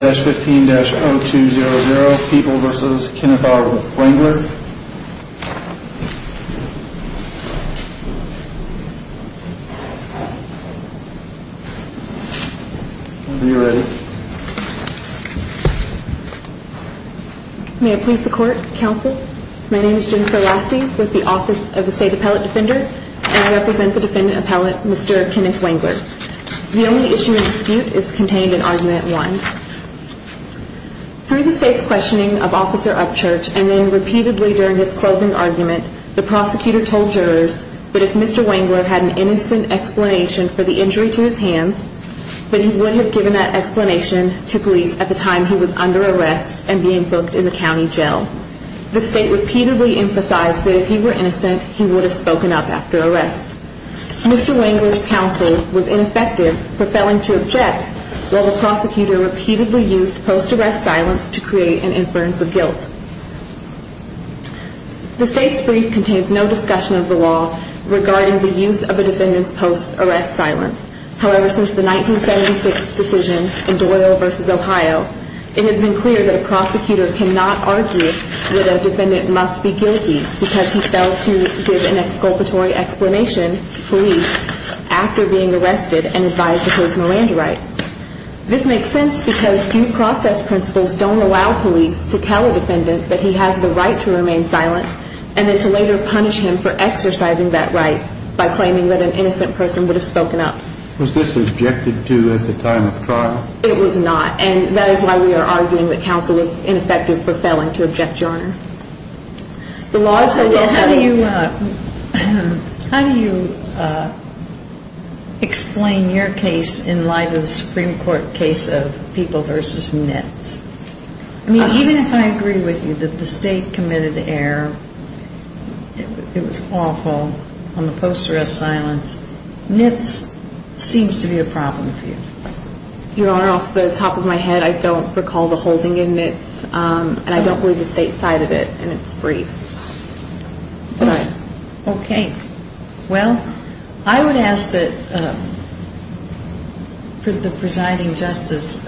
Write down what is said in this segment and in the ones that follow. May I please the court, counsel? My name is Jennifer Lassie with the Office of the State Appellate Defender, and I represent the defendant appellate, Mr. Kenneth Wangler. The only issue in dispute is contained in argument one. Through the state's questioning of Officer Upchurch, and then repeatedly during his closing argument, the prosecutor told jurors that if Mr. Wangler had an innocent explanation for the injury to his hands, that he would have given that explanation to police at the time he was under arrest and being booked in the county jail. The state repeatedly emphasized that if he were innocent, he would have spoken up after arrest. Mr. Wangler's counsel was ineffective for failing to object, while the prosecutor repeatedly used post-arrest silence to create an inference of guilt. The state's brief contains no discussion of the law regarding the use of a defendant's post-arrest silence. However, since the 1976 decision in Doyle v. Ohio, it has been clear that a prosecutor cannot argue that a defendant must be guilty because he failed to give an exculpatory explanation to police after being arrested and advised to pose Miranda rights. This makes sense because due process principles don't allow police to tell a defendant that he has the right to remain silent, and then to later punish him for exercising that right by claiming that an innocent person would have spoken up. Was this objected to at the time of trial? It was not, and that is why we are arguing that counsel is ineffective for failing to object, Your Honor. How do you explain your case in light of the Supreme Court case of People v. Nitz? I mean, even if I agree with you that the state committed the error, it was awful, on the post-arrest silence, Nitz seems to be a problem for you. Your Honor, off the top of my head, I don't recall the holding in Nitz, and I don't believe the state side of it, and it's brief. All right. Okay. Well, I would ask that the presiding justice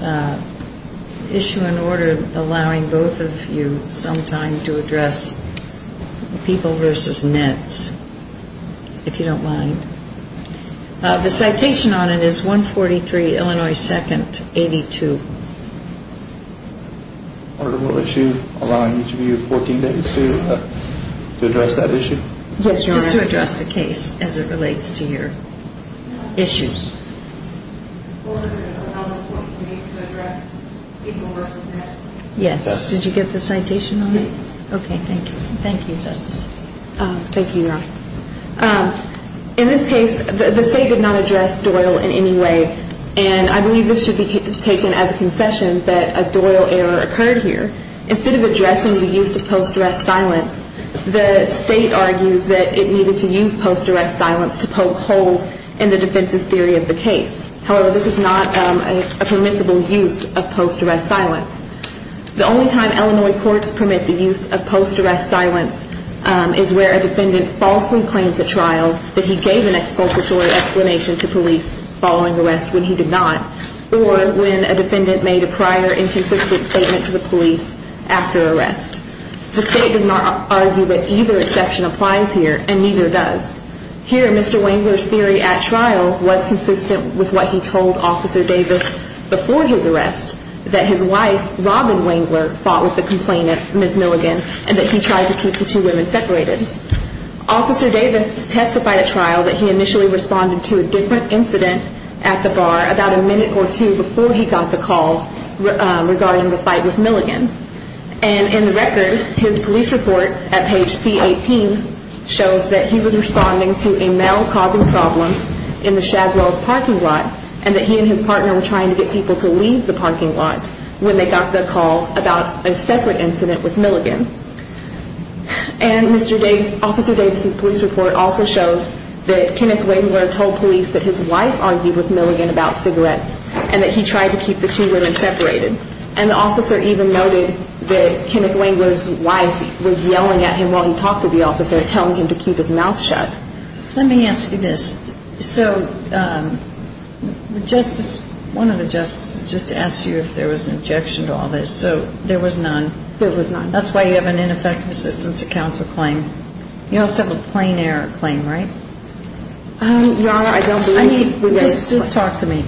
issue an order allowing both of you some time to address People v. Nitz, if you don't mind. The citation on it is 143, Illinois 2nd, 82. Order will issue allowing each of you 14 days to address that issue? Yes, Your Honor. Just to address the case as it relates to your issues. Order to allow 14 days to address People v. Nitz. Yes. Did you get the citation on it? Yes. Okay, thank you. Thank you, Justice. Thank you, Your Honor. In this case, the state did not address Doyle in any way, and I believe this should be taken as a concession that a Doyle error occurred here. Instead of addressing the use of post-arrest silence, the state argues that it needed to use post-arrest silence to poke holes in the defense's theory of the case. However, this is not a permissible use of post-arrest silence. The only time Illinois courts permit the use of post-arrest silence is where a defendant falsely claims at trial that he gave an expulsory explanation to police following arrest when he did not, or when a defendant made a prior inconsistent statement to the police after arrest. The state does not argue that either exception applies here, and neither does. Here, Mr. Wengler's theory at trial was consistent with what he told Officer Davis before his arrest, that his wife, Robin Wengler, fought with the complainant, Ms. Milligan, and that he tried to keep the two women separated. Officer Davis testified at trial that he initially responded to a different incident at the bar about a minute or two before he got the call regarding the fight with Milligan. And in the record, his police report at page C-18 shows that he was responding to a male causing problems in the Shadwells parking lot, and that he and his partner were trying to get people to leave the parking lot when they got the call about a separate incident with Milligan. And Officer Davis's police report also shows that Kenneth Wengler told police that his wife argued with Milligan about cigarettes, and that he tried to keep the two women separated. And the officer even noted that Kenneth Wengler's wife was yelling at him while he talked to the officer, telling him to keep his mouth shut. Let me ask you this. So one of the justices just asked you if there was an objection to all this. So there was none. There was none. That's why you have an ineffective assistance to counsel claim. You also have a plain error claim, right? Your Honor, I don't believe that. Just talk to me.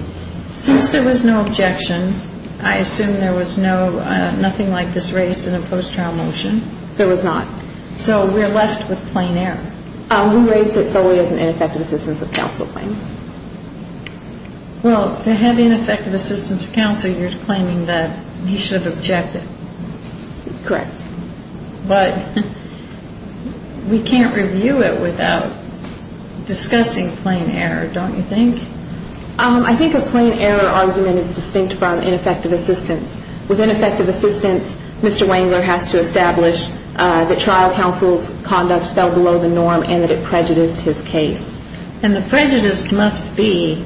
Since there was no objection, I assume there was nothing like this raised in a post-trial motion. There was not. So we're left with plain error. We raised it solely as an ineffective assistance of counsel claim. Well, to have ineffective assistance of counsel, you're claiming that he should have objected. Correct. But we can't review it without discussing plain error, don't you think? I think a plain error argument is distinct from ineffective assistance. With ineffective assistance, Mr. Wengler has to establish that trial counsel's conduct fell below the norm and that it prejudiced his case. And the prejudice must be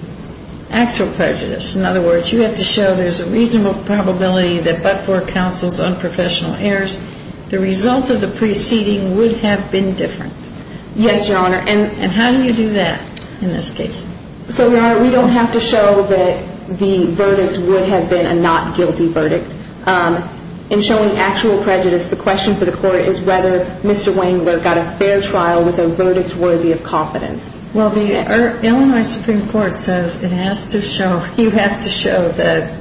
actual prejudice. In other words, you have to show there's a reasonable probability that but for counsel's unprofessional errors, the result of the preceding would have been different. Yes, Your Honor. And how do you do that in this case? So, Your Honor, we don't have to show that the verdict would have been a not guilty verdict. In showing actual prejudice, the question for the court is whether Mr. Wengler got a fair trial with a verdict worthy of confidence. Well, the Illinois Supreme Court says it has to show, you have to show that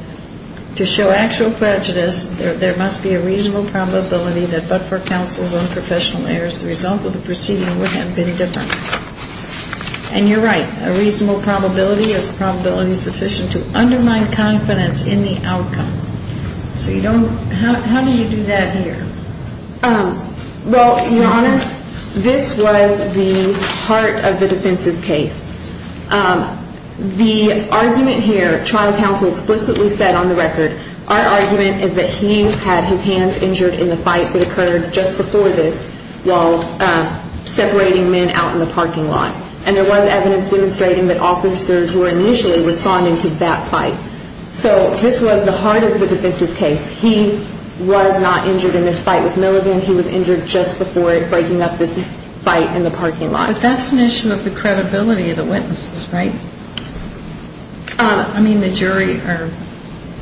to show actual prejudice, there must be a reasonable probability that but for counsel's unprofessional errors, the result of the preceding would have been different. And you're right. A reasonable probability is a probability sufficient to undermine confidence in the outcome. So you don't, how do you do that here? Well, Your Honor, this was the heart of the defense's case. The argument here, trial counsel explicitly said on the record, our argument is that he had his hands injured in the fight that occurred just before this while separating men out in the parking lot. And there was evidence demonstrating that officers were initially responding to that fight. So this was the heart of the defense's case. He was not injured in this fight with Milligan. He was injured just before breaking up this fight in the parking lot. But that's an issue of the credibility of the witnesses, right? I mean, the jury, or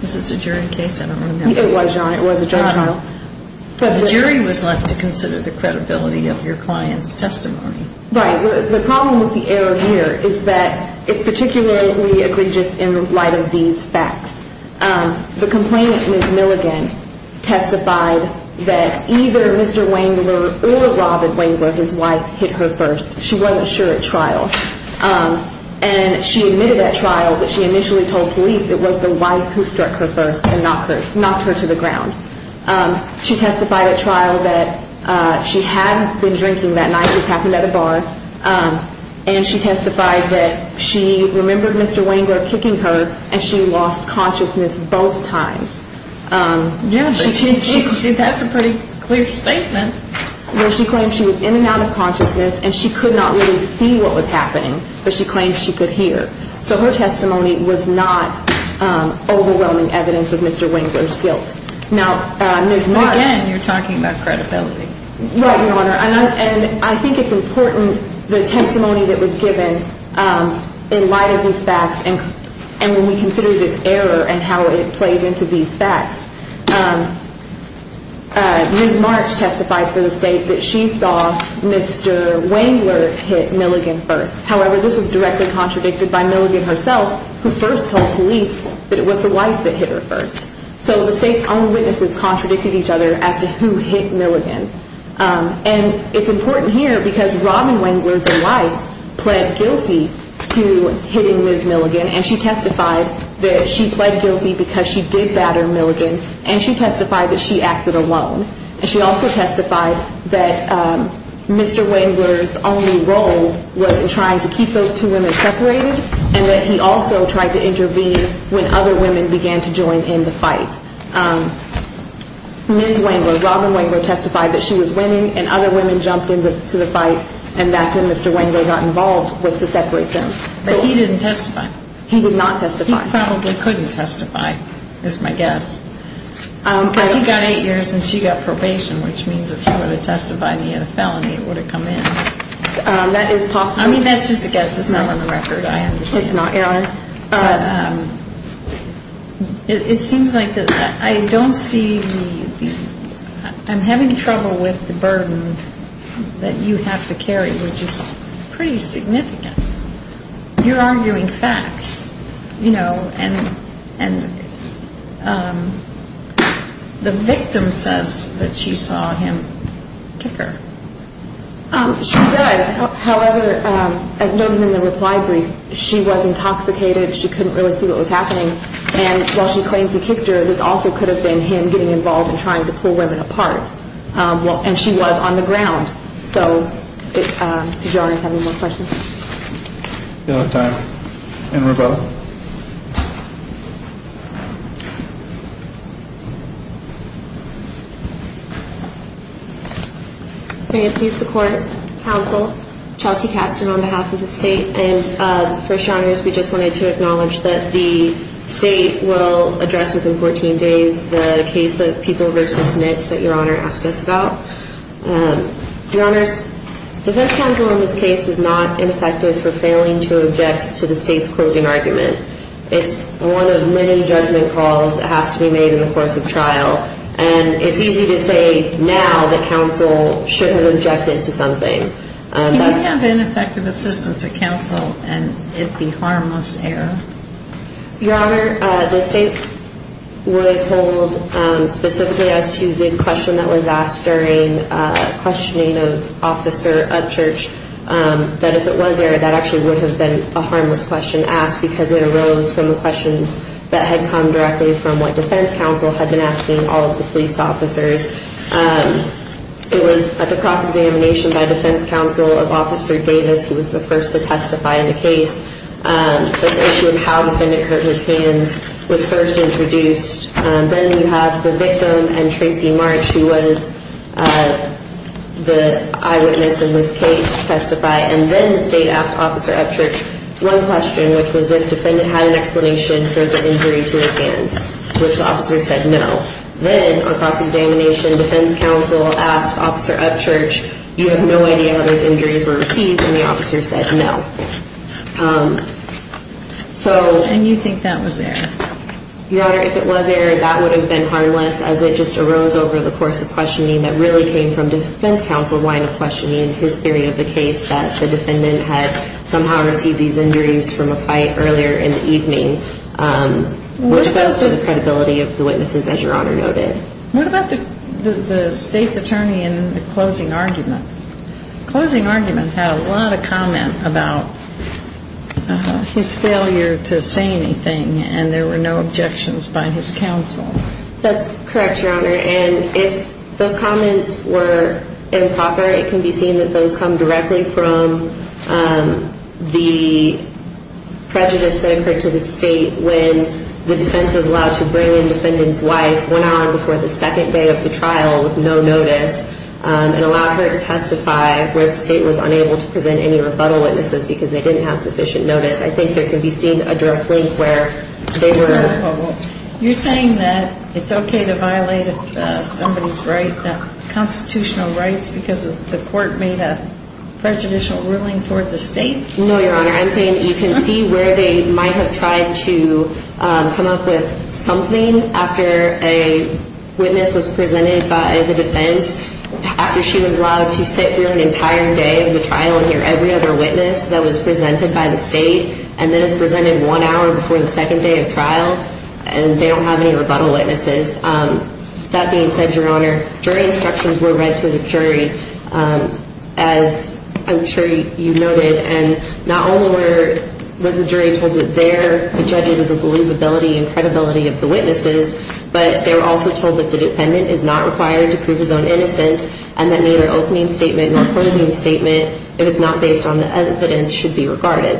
is this a jury case? I don't remember. It was, Your Honor. It was a judge trial. But the jury was left to consider the credibility of your client's testimony. Right. The problem with the error here is that it's particularly egregious in light of these facts. The complainant, Ms. Milligan, testified that either Mr. Wengler or Robert Wengler, his wife, hit her first. She wasn't sure at trial. And she admitted at trial that she initially told police it was the wife who struck her first and knocked her to the ground. She testified at trial that she had been drinking that night. This happened at a bar. And she testified that she remembered Mr. Wengler kicking her, and she lost consciousness both times. Yeah, that's a pretty clear statement. Well, she claimed she was in and out of consciousness, and she could not really see what was happening, but she claimed she could hear. So her testimony was not overwhelming evidence of Mr. Wengler's guilt. Now, Ms. Marsh. Again, you're talking about credibility. Right, Your Honor. And I think it's important, the testimony that was given in light of these facts, and when we consider this error and how it plays into these facts, Ms. Marsh testified for the state that she saw Mr. Wengler hit Milligan first. However, this was directly contradicted by Milligan herself, who first told police that it was the wife that hit her first. So the state's own witnesses contradicted each other as to who hit Milligan. And it's important here because Robin Wengler, the wife, pled guilty to hitting Ms. Milligan, and she testified that she pled guilty because she did batter Milligan, and she testified that she acted alone. And she also testified that Mr. Wengler's only role was in trying to keep those two women separated, and that he also tried to intervene when other women began to join in the fight. Ms. Wengler, Robin Wengler testified that she was winning and other women jumped into the fight, and that's when Mr. Wengler got involved, was to separate them. But he didn't testify. He did not testify. He probably couldn't testify, is my guess. Because he got eight years and she got probation, which means if he would have testified and he had a felony, it would have come in. That is possible. I mean, that's just a guess. It's not on the record, I understand. It's not, Your Honor. But it seems like I don't see the – I'm having trouble with the burden that you have to carry, which is pretty significant. You're arguing facts, you know, and the victim says that she saw him kick her. She does. However, as noted in the reply brief, she was intoxicated. She couldn't really see what was happening. And while she claims he kicked her, this also could have been him getting involved and trying to pull women apart. And she was on the ground. So did Your Honor have any more questions? No time. And Rebecca? May it please the Court, counsel, Chelsea Casten on behalf of the State. And, First Your Honors, we just wanted to acknowledge that the State will address within 14 days the case of People v. Nitz that Your Honor asked us about. Your Honors, defense counsel in this case was not ineffective for failing to object to the State's closing argument. It's one of many judgment calls that has to be made in the course of trial. And it's easy to say now that counsel shouldn't have objected to something. Can you have ineffective assistance at counsel and it be harmless error? Your Honor, the State would hold specifically as to the question that was asked during questioning of Officer Upchurch that if it was error, that actually would have been a harmless question asked because it arose from the questions that had come directly from what defense counsel had been asking all of the police officers. It was at the cross-examination by defense counsel of Officer Davis, who was the first to testify in the case, that the issue of how defendant cut his hands was first introduced. Then you have the victim and Tracy March, who was the eyewitness in this case, testify. And then the State asked Officer Upchurch one question, which was if defendant had an explanation for the injury to his hands, which the officer said no. Then at cross-examination, defense counsel asked Officer Upchurch, you have no idea how those injuries were received, and the officer said no. And you think that was error? Your Honor, if it was error, that would have been harmless as it just arose over the course of questioning that really came from defense counsel winding up questioning his theory of the case that the defendant had somehow received these injuries from a fight earlier in the evening, which goes to the credibility of the witnesses, as Your Honor noted. What about the State's attorney in the closing argument? The closing argument had a lot of comment about his failure to say anything, and there were no objections by his counsel. That's correct, Your Honor, and if those comments were improper, it can be seen that those come directly from the prejudice that occurred to the State when the defense was allowed to bring in defendant's wife one hour before the second day of the trial with no notice and allow her to testify where the State was unable to present any rebuttal witnesses because they didn't have sufficient notice. I think there can be seen a direct link where they were. You're saying that it's okay to violate somebody's constitutional rights because the court made a prejudicial ruling toward the State? No, Your Honor, I'm saying that you can see where they might have tried to come up with something after a witness was presented by the defense after she was allowed to sit through an entire day of the trial and hear every other witness that was presented by the State and then is presented one hour before the second day of trial and they don't have any rebuttal witnesses. That being said, Your Honor, jury instructions were read to the jury, as I'm sure you noted, and not only was the jury told that they're the judges of the believability and credibility of the witnesses, but they were also told that the defendant is not required to prove his own innocence and that neither opening statement nor closing statement, if it's not based on the evidence, should be regarded.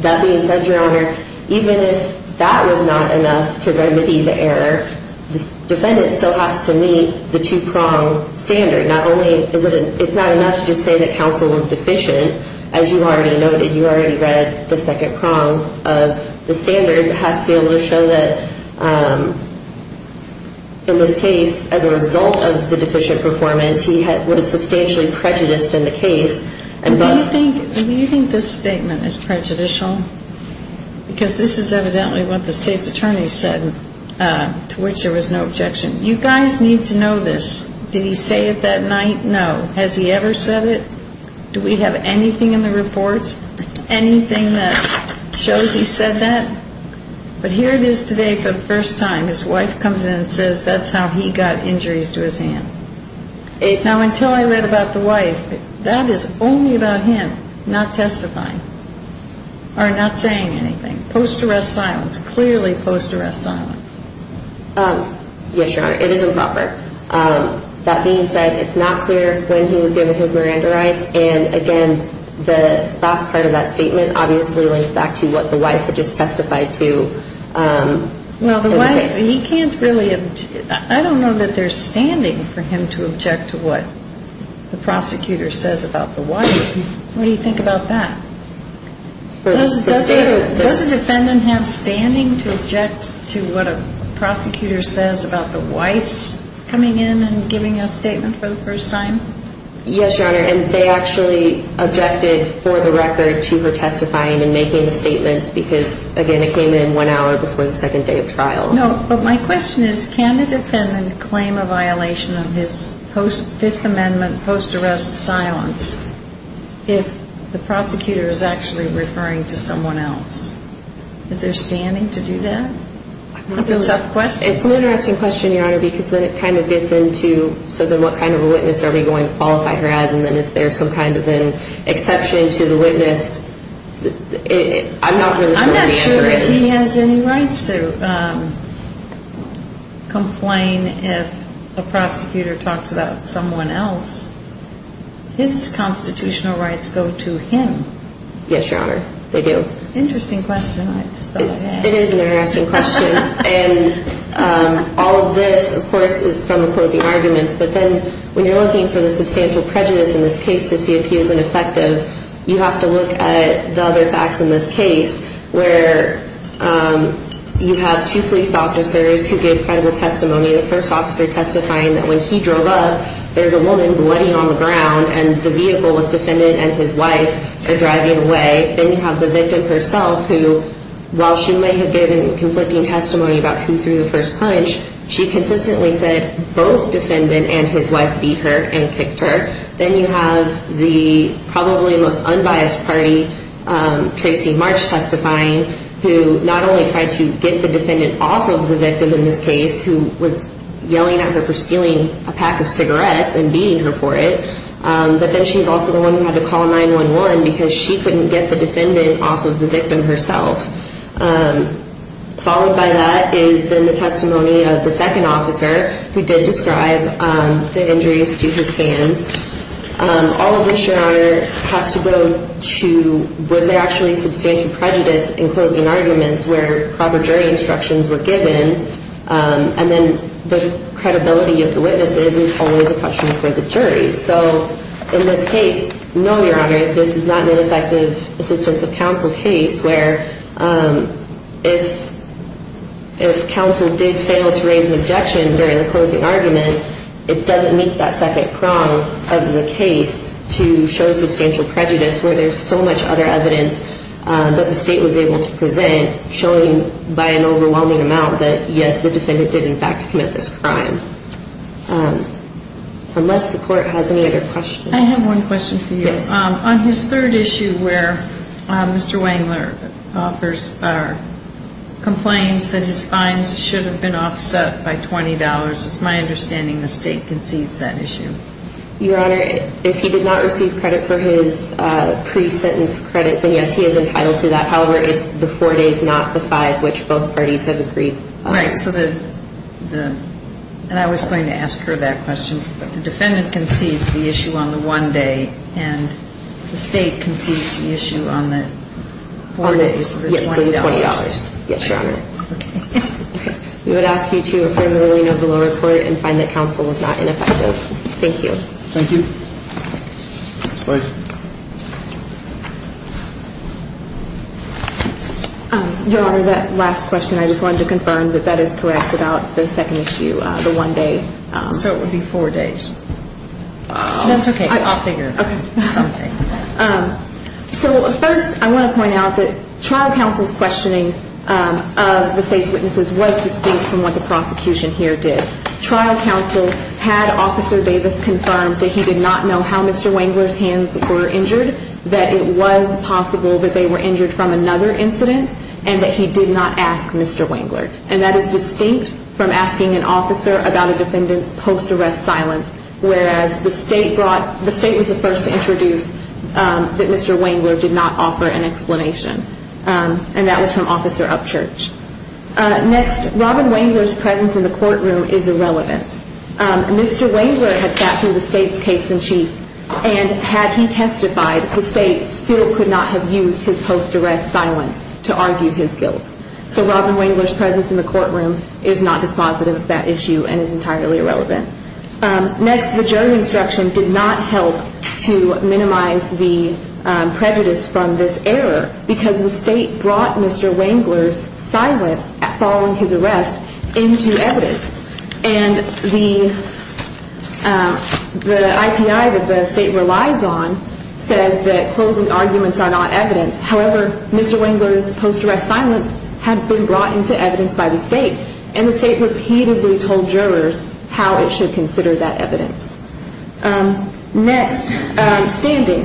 That being said, Your Honor, even if that was not enough to remedy the error, the defendant still has to meet the two-prong standard. It's not enough to just say that counsel was deficient. As you already noted, you already read the second prong of the standard. The jury has to be able to show that in this case, as a result of the deficient performance, he was substantially prejudiced in the case. Do you think this statement is prejudicial? Because this is evidently what the State's attorney said, to which there was no objection. You guys need to know this. Did he say it that night? No. Has he ever said it? Do we have anything in the reports? Anything that shows he said that? But here it is today for the first time. His wife comes in and says that's how he got injuries to his hands. Now, until I read about the wife, that is only about him not testifying or not saying anything. Post-arrest silence. Clearly post-arrest silence. Yes, Your Honor. It is improper. That being said, it's not clear when he was given his Miranda rights. And, again, the last part of that statement obviously links back to what the wife had just testified to. Well, the wife, he can't really object. I don't know that there's standing for him to object to what the prosecutor says about the wife. What do you think about that? Does the defendant have standing to object to what a prosecutor says about the wife's coming in and giving a statement for the first time? Yes, Your Honor, and they actually objected for the record to her testifying and making the statements because, again, it came in one hour before the second day of trial. No, but my question is can the defendant claim a violation of his Fifth Amendment post-arrest silence if the prosecutor is actually referring to someone else? Is there standing to do that? That's a tough question. It's an interesting question, Your Honor, because then it kind of gets into so then what kind of a witness are we going to qualify her as and then is there some kind of an exception to the witness? I'm not really sure what the answer is. I'm not sure if he has any rights to complain if a prosecutor talks about someone else. His constitutional rights go to him. Yes, Your Honor, they do. Interesting question. I just thought I'd ask. It is an interesting question, and all of this, of course, is from the closing arguments, but then when you're looking for the substantial prejudice in this case to see if he is ineffective, you have to look at the other facts in this case where you have two police officers who gave credible testimony, the first officer testifying that when he drove up, there's a woman bloody on the ground and the vehicle with defendant and his wife are driving away. Then you have the victim herself who, while she may have given conflicting testimony about who threw the first punch, she consistently said both defendant and his wife beat her and kicked her. Then you have the probably most unbiased party, Tracy March testifying, who not only tried to get the defendant off of the victim in this case, who was yelling at her for stealing a pack of cigarettes and beating her for it, but then she's also the one who had to call 911 because she couldn't get the defendant off of the victim herself. Followed by that is then the testimony of the second officer who did describe the injuries to his hands. All of this, Your Honor, has to go to was there actually substantial prejudice in closing arguments where proper jury instructions were given, and then the credibility of the witnesses is always a question for the jury. So in this case, no, Your Honor, this is not an effective assistance of counsel case, where if counsel did fail to raise an objection during the closing argument, it doesn't meet that second prong of the case to show substantial prejudice where there's so much other evidence that the state was able to present, by an overwhelming amount that, yes, the defendant did in fact commit this crime. Unless the court has any other questions. I have one question for you. Yes. On his third issue where Mr. Wengler complains that his fines should have been offset by $20, it's my understanding the state concedes that issue. Your Honor, if he did not receive credit for his pre-sentence credit, then yes, he is entitled to that. However, it's the four days, not the five, which both parties have agreed. Right. And I was going to ask her that question, but the defendant concedes the issue on the one day, and the state concedes the issue on the four days for $20. Yes, Your Honor. Okay. We would ask you to affirm the ruling of the lower court and find that counsel was not ineffective. Thank you. Thank you. Ms. Lewis. Your Honor, that last question, I just wanted to confirm that that is correct about the second issue, the one day. So it would be four days. That's okay. I'll figure. Okay. It's okay. So first I want to point out that trial counsel's questioning of the state's witnesses was distinct from what the prosecution here did. Trial counsel had Officer Davis confirm that he did not know how Mr. Wengler's hands were injured, that it was possible that they were injured from another incident, and that he did not ask Mr. Wengler. And that is distinct from asking an officer about a defendant's post-arrest silence, whereas the state was the first to introduce that Mr. Wengler did not offer an explanation. And that was from Officer Upchurch. Next, Robin Wengler's presence in the courtroom is irrelevant. Mr. Wengler had sat through the state's case in chief, and had he testified, the state still could not have used his post-arrest silence to argue his guilt. So Robin Wengler's presence in the courtroom is not dispositive of that issue and is entirely irrelevant. Next, the jury instruction did not help to minimize the prejudice from this error because the state brought Mr. Wengler's silence following his arrest into evidence. And the IPI that the state relies on says that closing arguments are not evidence. However, Mr. Wengler's post-arrest silence had been brought into evidence by the state, and the state repeatedly told jurors how it should consider that evidence. Next, standing.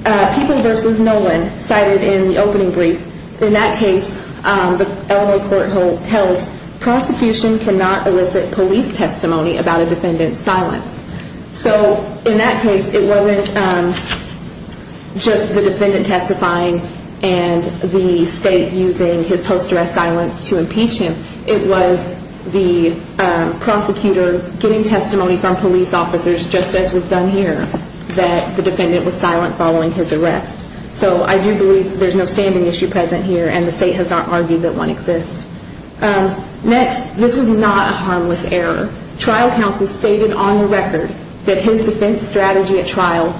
People v. Nolan cited in the opening brief. In that case, the Illinois Courthouse held, prosecution cannot elicit police testimony about a defendant's silence. So in that case, it wasn't just the defendant testifying and the state using his post-arrest silence to impeach him. It was the prosecutor getting testimony from police officers, just as was done here, that the defendant was silent following his arrest. So I do believe there's no standing issue present here, and the state has not argued that one exists. Next, this was not a harmless error. Trial counsel stated on the record that his defense strategy at trial,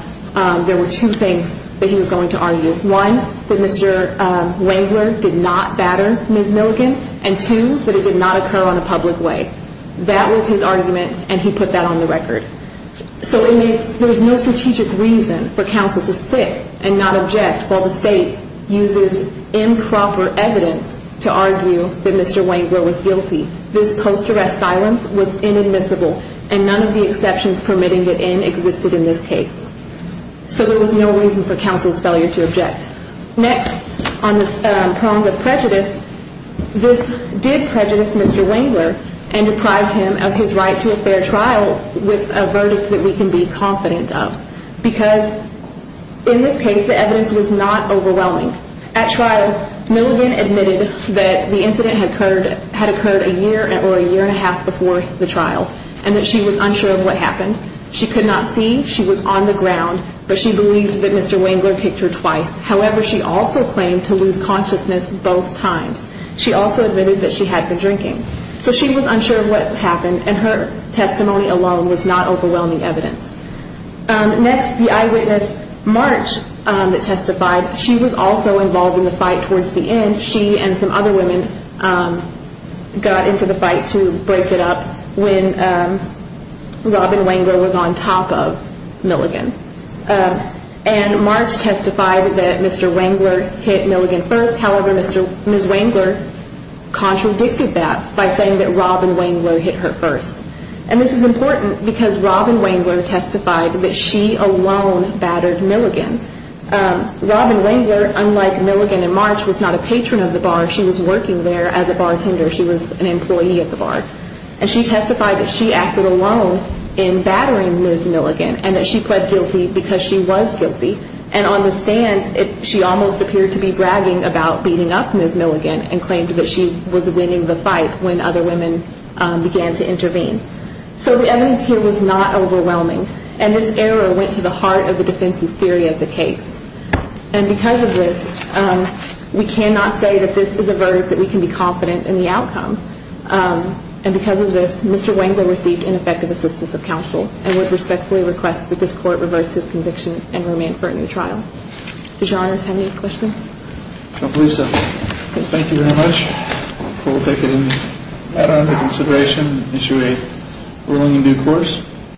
there were two things that he was going to argue. One, that Mr. Wengler did not batter Ms. Milligan. And two, that it did not occur on a public way. That was his argument, and he put that on the record. So there's no strategic reason for counsel to sit and not object while the state uses improper evidence to argue that Mr. Wengler was guilty. This post-arrest silence was inadmissible, and none of the exceptions permitting it in existed in this case. So there was no reason for counsel's failure to object. Next, on the prong of prejudice, this did prejudice Mr. Wengler and deprived him of his right to a fair trial with a verdict that we can be confident of. Because in this case, the evidence was not overwhelming. At trial, Milligan admitted that the incident had occurred a year or a year and a half before the trial and that she was unsure of what happened. She could not see. She was on the ground. But she believed that Mr. Wengler kicked her twice. However, she also claimed to lose consciousness both times. She also admitted that she had been drinking. So she was unsure of what happened, and her testimony alone was not overwhelming evidence. Next, the eyewitness, March, that testified, she was also involved in the fight towards the end. She and some other women got into the fight to break it up when Robin Wengler was on top of Milligan. And March testified that Mr. Wengler hit Milligan first. However, Ms. Wengler contradicted that by saying that Robin Wengler hit her first. And this is important because Robin Wengler testified that she alone battered Milligan. Robin Wengler, unlike Milligan and March, was not a patron of the bar. She was working there as a bartender. She was an employee at the bar. And she testified that she acted alone in battering Ms. Milligan and that she pled guilty because she was guilty. And on the stand, she almost appeared to be bragging about beating up Ms. Milligan and claimed that she was winning the fight when other women began to intervene. So the evidence here was not overwhelming. And this error went to the heart of the defense's theory of the case. And because of this, we cannot say that this is a verdict that we can be confident in the outcome. And because of this, Mr. Wengler received ineffective assistance of counsel and would respectfully request that this court reverse his conviction and remand for a new trial. Does Your Honors have any questions? I believe so. Thank you very much. We'll take it into consideration and issue a ruling in due course.